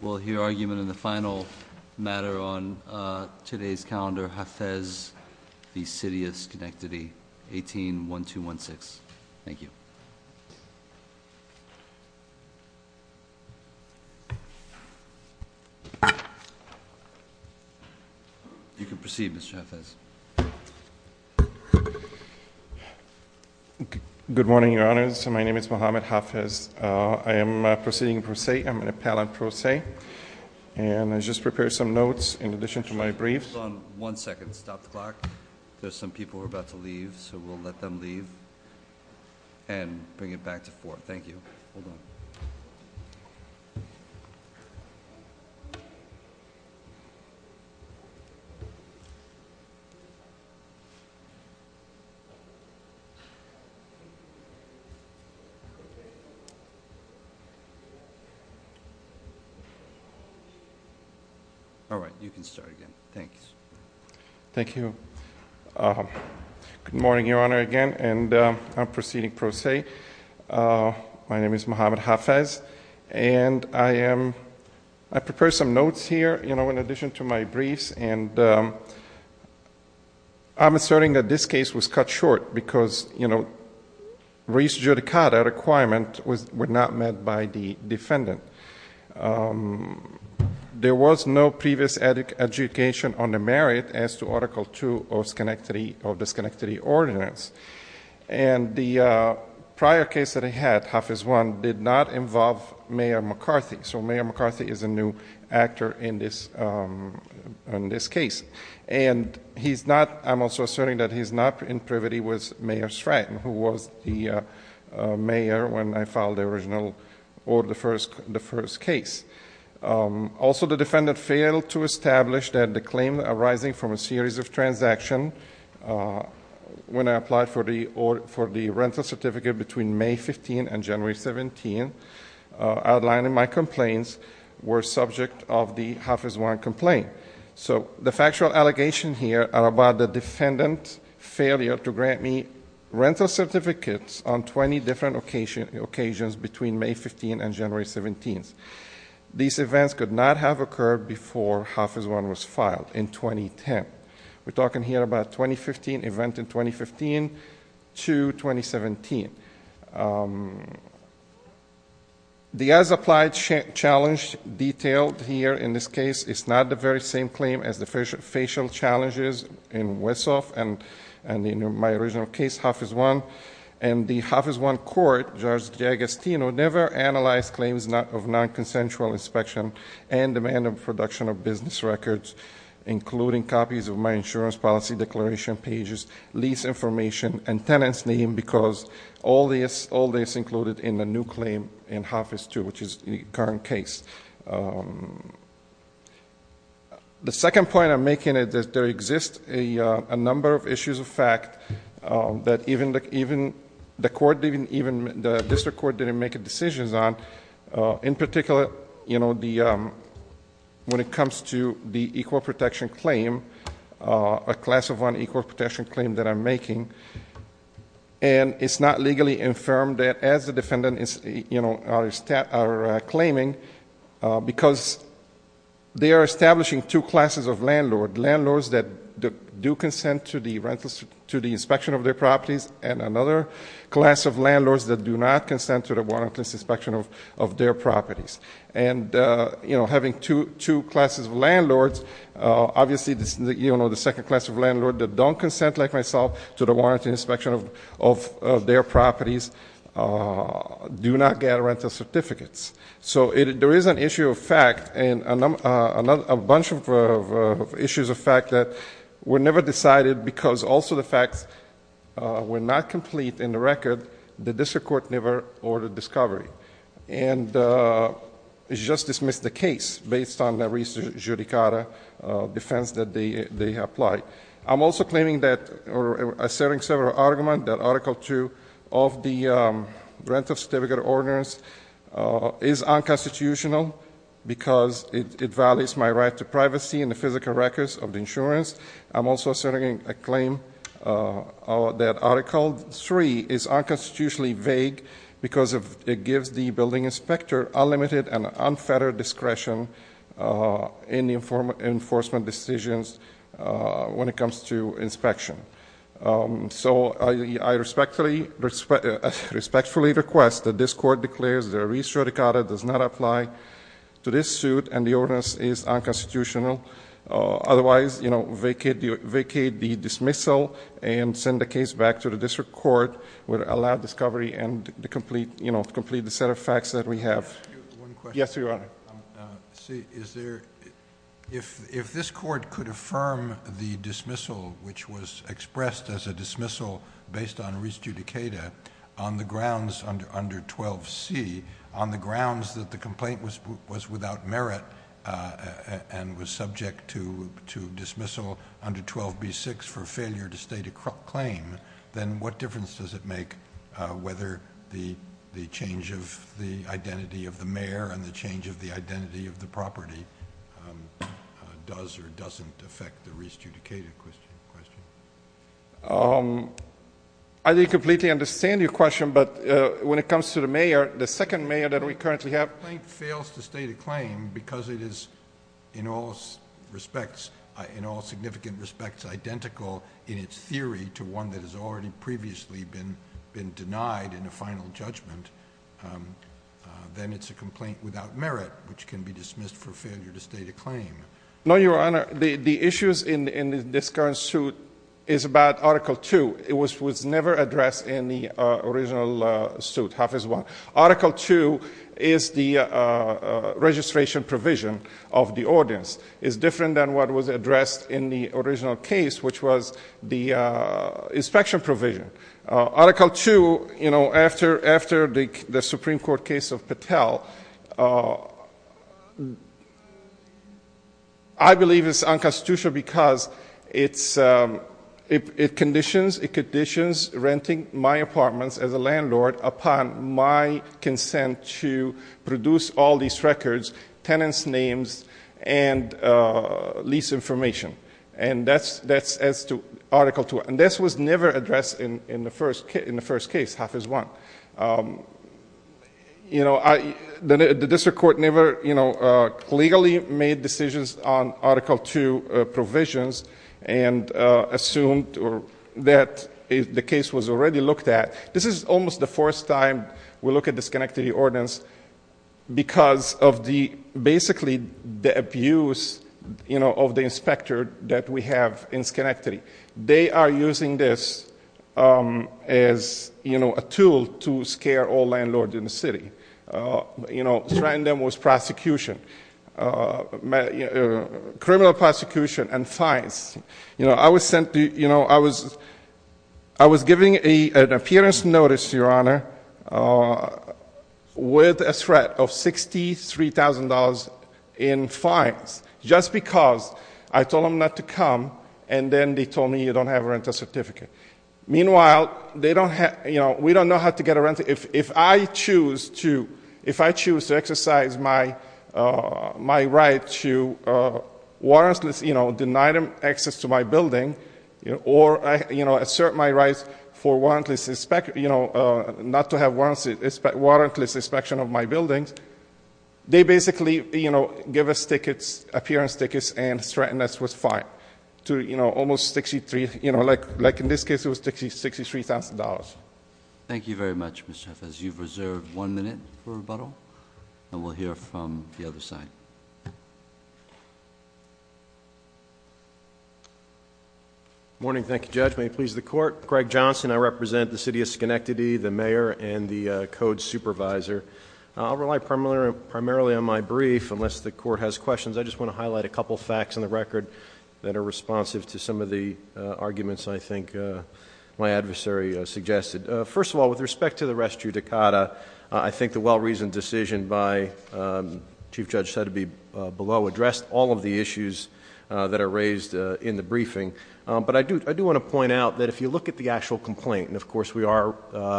We'll hear argument in the final matter on today's calendar Hafez v. City of Schenectady 18-1216. Thank you. You can proceed Mr. Hafez. Good morning your honors. My name is Mohamed Hafez. I am proceeding per se. I'm an appellant per se and I just prepared some notes in addition to my briefs. Hold on one second. Stop the clock. There's some people who are about to leave so we'll let them leave and bring it back to four. Thank you. All right. You can start again. Thank you. Good morning your honor again and I'm proceeding per se. My name is Mohamed Hafez and I prepared some notes here in addition to my briefs and I'm asserting that this case was cut short because re-judicata requirements were not met by the defendant. There was no previous education on the merit as to Article 2 of the Schenectady Ordinance and the prior case that I had, Hafez 1, did not involve Mayor McCarthy so Mayor McCarthy is a new actor in this case and he's not, I'm also asserting that he's not in privity with Mayor Stratton who was the mayor when I filed the original or the first case. Also the defendant failed to establish that the claim arising from a series of transactions when I applied for the rental certificate between May 15th and January 17th outlining my complaints were subject of the Hafez 1 complaint. So the factual allegations here are about the defendant's failure to grant me rental certificates on 20 different occasions between May 15th and January 17th. These events could not have occurred before Hafez 1 was filed in 2010. We're talking here about 2015, event in 2015 to 2017. The as-applied challenge detailed here in this case is not the very same claim as the facial challenges in Westhoff and in my original case, Hafez 1. And the Hafez 1 court, Judge Giagostino, never analyzed claims of non-consensual inspection and demand of production of business records including copies of my insurance policy declaration pages, lease information, and tenant's name because all this included in the new claim in Hafez 2, which is the current case. The second point I'm making is that there exists a number of issues of fact that even the court, even the district court didn't make decisions on. In particular, you know, the, when it comes to the equal protection claim, a class of one equal protection claim that I'm making, and it's not legally infirmed that as the district court, you know, are claiming because they are establishing two classes of landlord. Landlords that do consent to the inspection of their properties and another class of landlords that do not consent to the warrantless inspection of their properties. And, you know, having two classes of landlords, obviously, you know, the second class of landlord that don't consent like myself to the warrantless inspection of their properties do not get rental certificates. So there is an issue of fact and a bunch of issues of fact that were never decided because also the facts were not complete in the record. The district court never ordered discovery. And it's just dismissed the case based on the recent judicata defense that they applied. I'm also claiming that, or asserting several arguments that Article 2 of the Rental Certificate Ordinance is unconstitutional because it violates my right to privacy and the physical records of the insurance. I'm also asserting a claim that Article 3 is unconstitutionally vague because it gives the building inspector unlimited and unfettered discretion in the enforcement decisions when it comes to inspection. So I respectfully request that this court declares that a recent judicata does not apply to this suit and the ordinance is unconstitutional. Otherwise, you know, vacate the dismissal and send the case back to the district court where it allowed discovery and to complete, you know, complete the set of facts that we have. One question. Yes, Your Honor. See, is there, if this court could affirm the dismissal which was expressed as a dismissal based on recent judicata on the grounds under 12C, on the grounds that the complaint was without merit and was subject to dismissal under 12B6 for failure to state a claim, then what difference does it make whether the change of the identity of the mayor and the change of the identity of the property does or doesn't affect the recent judicata question? I didn't completely understand your question, but when it comes to the mayor, the second mayor that we currently have. The complaint fails to state a claim because it is, in all respects, in all significant respects, identical in its theory to one that has already previously been denied in a final judgment. Then it's a complaint without merit, which can be dismissed for failure to state a claim. No, Your Honor. The issues in this current suit is about Article 2. It was never addressed in the original suit, Hafiz 1. Article 2 is the registration provision of the ordinance. It's different than what was addressed in the original case, which was the inspection provision. Article 2, you know, after the Supreme Court case of Patel, I believe it's unconstitutional because it conditions renting my apartments as a landlord upon my consent to produce all these records, tenants' names, and lease information. And that's as to Article 2. And this was never addressed in the first case, Hafiz 1. You know, the district court never, you know, legally made decisions on Article 2 provisions and assumed that the case was already looked at. This is almost the first time we look at the Schenectady Ordinance because of the, basically, the abuse, you know, of the inspector that we have in Schenectady. They are using this as, you know, a tool to scare all landlords in the city. You know, strand them with prosecution, criminal prosecution and fines. You know, I was sent, you know, I was giving an appearance notice, Your Honor, with a threat of $63,000 in fines just because I told them not to come and then they told me you don't have a rental certificate. Meanwhile, they don't have, you know, we don't know how to get a rental. But if I choose to, if I choose to exercise my right to, you know, deny them access to my building or, you know, assert my rights for warrantless, you know, not to have warrantless inspection of my buildings, they basically, you know, give us tickets, appearance tickets and threaten us with fine to, you know, almost 63, you know, like in this case it was $63,000. Thank you very much, Mr. Huff. As you've reserved one minute for rebuttal, and we'll hear from the other side. Morning. Thank you, Judge. May it please the court. Craig Johnson. I represent the city of Schenectady, the mayor and the code supervisor. I'll rely primarily on my brief unless the court has questions. I just want to highlight a couple facts on the record that are responsive to some of the arguments I think my adversary suggested. First of all, with respect to the res judicata, I think the well-reasoned decision by Chief Judge Sotheby below addressed all of the issues that are raised in the briefing. But I do want to point out that if you look at the actual complaint, and of course we are,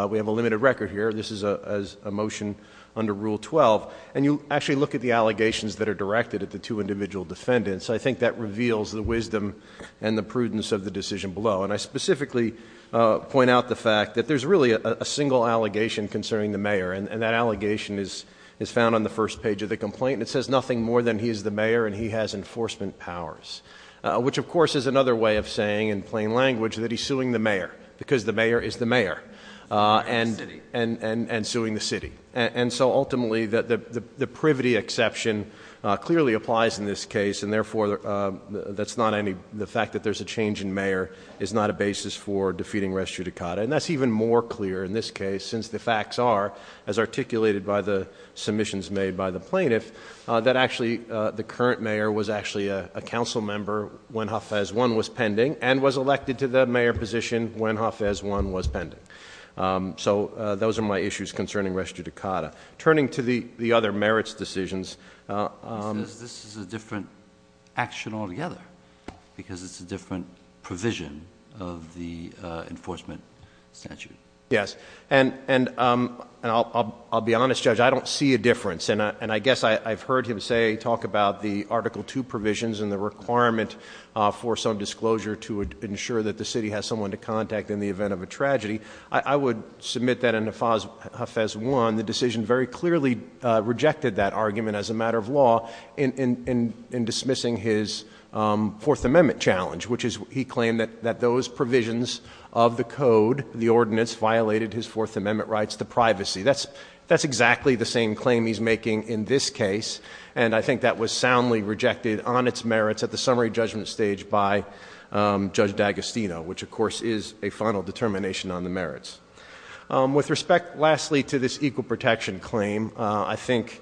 we have a limited record here. This is a motion under Rule 12, and you actually look at the allegations that are directed at the two individual defendants. I think that reveals the wisdom and the prudence of the decision below. And I specifically point out the fact that there's really a single allegation concerning the mayor. And that allegation is found on the first page of the complaint. And it says nothing more than he is the mayor and he has enforcement powers. Which of course is another way of saying in plain language that he's suing the mayor, because the mayor is the mayor, and suing the city. And so ultimately, the privity exception clearly applies in this case. And therefore, the fact that there's a change in mayor is not a basis for defeating res judicata. And that's even more clear in this case, since the facts are, as articulated by the submissions made by the plaintiff, that actually the current mayor was actually a council member when Hafez 1 was pending, and was elected to the mayor position when Hafez 1 was pending. So those are my issues concerning res judicata. Turning to the other merits decisions. This is a different action altogether, because it's a different provision of the enforcement statute. Yes, and I'll be honest, Judge, I don't see a difference. And I guess I've heard him say, talk about the Article 2 provisions and the requirement for some disclosure to ensure that the city has someone to contact in the event of a tragedy. I would submit that in Hafez 1, the decision very clearly rejected that argument as a matter of law in dismissing his Fourth Amendment challenge, which is he claimed that those provisions of the code, the ordinance, violated his Fourth Amendment rights to privacy. That's exactly the same claim he's making in this case. And I think that was soundly rejected on its merits at the summary judgment stage by Judge D'Agostino, which of course is a final determination on the merits. With respect, lastly, to this equal protection claim, I think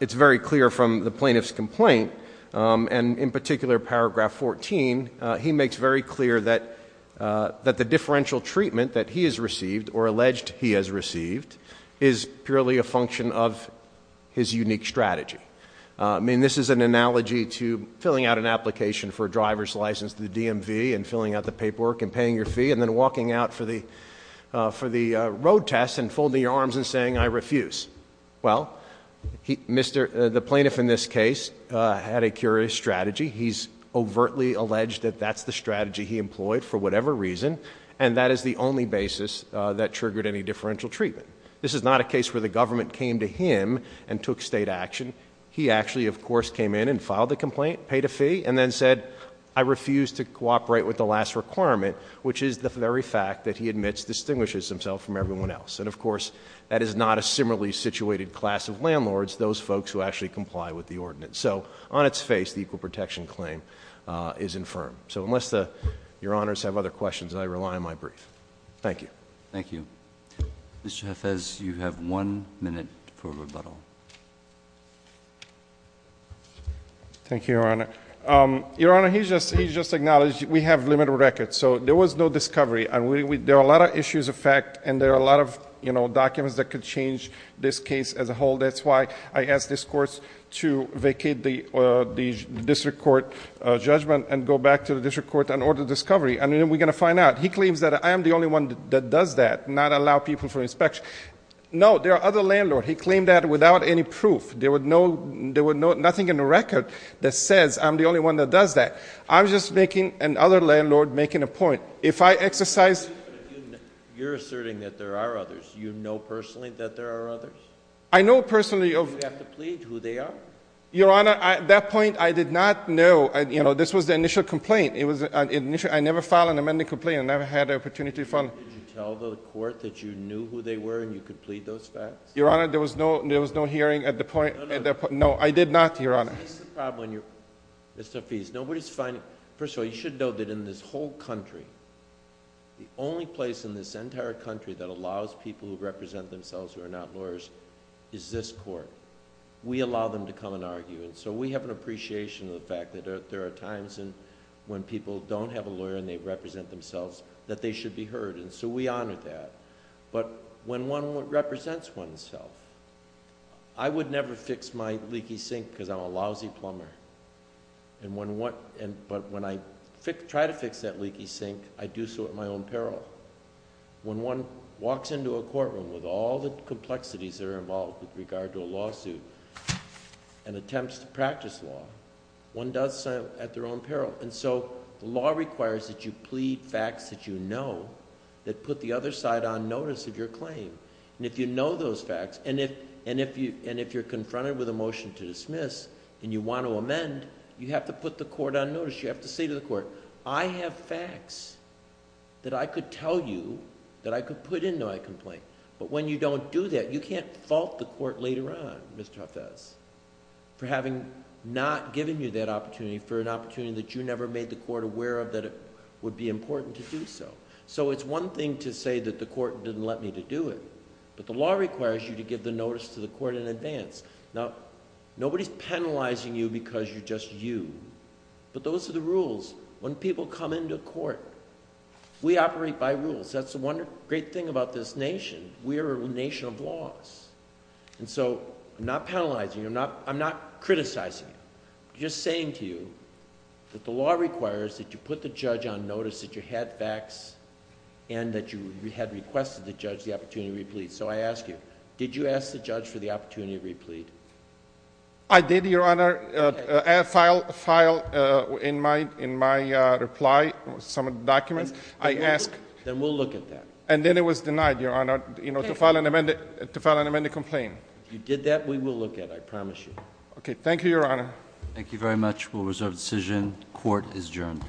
it's very clear from the plaintiff's complaint. And in particular, paragraph 14, he makes very clear that the differential treatment that he has received, or alleged he has received, is purely a function of his unique strategy. I mean, this is an analogy to filling out an application for a driver's license to the DMV and filling out the paperwork and paying your fee and then walking out for the road test and folding your arms and saying I refuse. Well, the plaintiff in this case had a curious strategy. He's overtly alleged that that's the strategy he employed for whatever reason. And that is the only basis that triggered any differential treatment. This is not a case where the government came to him and took state action. He actually, of course, came in and filed the complaint, paid a fee, and then said, I refuse to cooperate with the last requirement, which is the very fact that he admits distinguishes himself from everyone else. And of course, that is not a similarly situated class of landlords, those folks who actually comply with the ordinance. So on its face, the equal protection claim is infirm. So unless your honors have other questions, I rely on my brief. Thank you. Thank you. Mr. Jefez, you have one minute for rebuttal. Thank you, Your Honor. Your Honor, he just acknowledged we have limited records. So there was no discovery, and there are a lot of issues of fact, and there are a lot of documents that could change this case as a whole. That's why I asked this court to vacate the district court judgment and go back to the district court and order discovery, and then we're going to find out. He claims that I am the only one that does that, not allow people for inspection. No, there are other landlord. He claimed that without any proof. There were nothing in the record that says I'm the only one that does that. I'm just making another landlord making a point. If I exercise- You're asserting that there are others. You know personally that there are others? I know personally of- Do you have to plead who they are? Your Honor, at that point, I did not know, this was the initial complaint. I never filed an amendment complaint. I never had the opportunity to file- Did you tell the court that you knew who they were and you could plead those facts? Your Honor, there was no hearing at the point- No, no. No, I did not, Your Honor. This is the problem when you're... Mr. Afeez, nobody's finding... First of all, you should know that in this whole country, the only place in this entire country that allows people who represent themselves who are not lawyers is this court. We allow them to come and argue, and so we have an appreciation of the fact that there are times when people don't have a lawyer and they represent themselves that they should be heard, and so we honor that. When one represents oneself... I would never fix my leaky sink because I'm a lousy plumber, but when I try to fix that leaky sink, I do so at my own peril. When one walks into a courtroom with all the complexities that are involved with regard to a lawsuit and attempts to practice law, one does so at their own peril. The law requires that you plead facts that you know that put the other side on notice of your claim. If you know those facts, and if you're confronted with a motion to dismiss and you want to amend, you have to put the court on notice. You have to say to the court, I have facts that I could tell you that I could put into my complaint. When you don't do that, you can't fault the court later on, Mr. Hafez, for having not given you that opportunity, for an opportunity that you never made the court aware of that it would be important to do so. It's one thing to say that the court didn't let me to do it, but the law requires you to give the notice to the court in advance. Nobody's penalizing you because you're just you, but those are the rules. When people come into court, we operate by rules. That's the one great thing about this nation. We are a nation of laws, and so I'm not penalizing you. I'm not criticizing you. I'm just saying to you that the law requires that you put the judge on notice that you had facts and that you had requested the judge the opportunity to replead. I ask you, did you ask the judge for the opportunity to replead? I did, Your Honor, file in my reply some documents. I asked... Then we'll look at that. And then it was denied, Your Honor, to file an amended complaint. If you did that, we will look at it, I promise you. Okay. Thank you, Your Honor. Thank you very much. We'll reserve the decision. Court is adjourned. Court is adjourned. Thank you.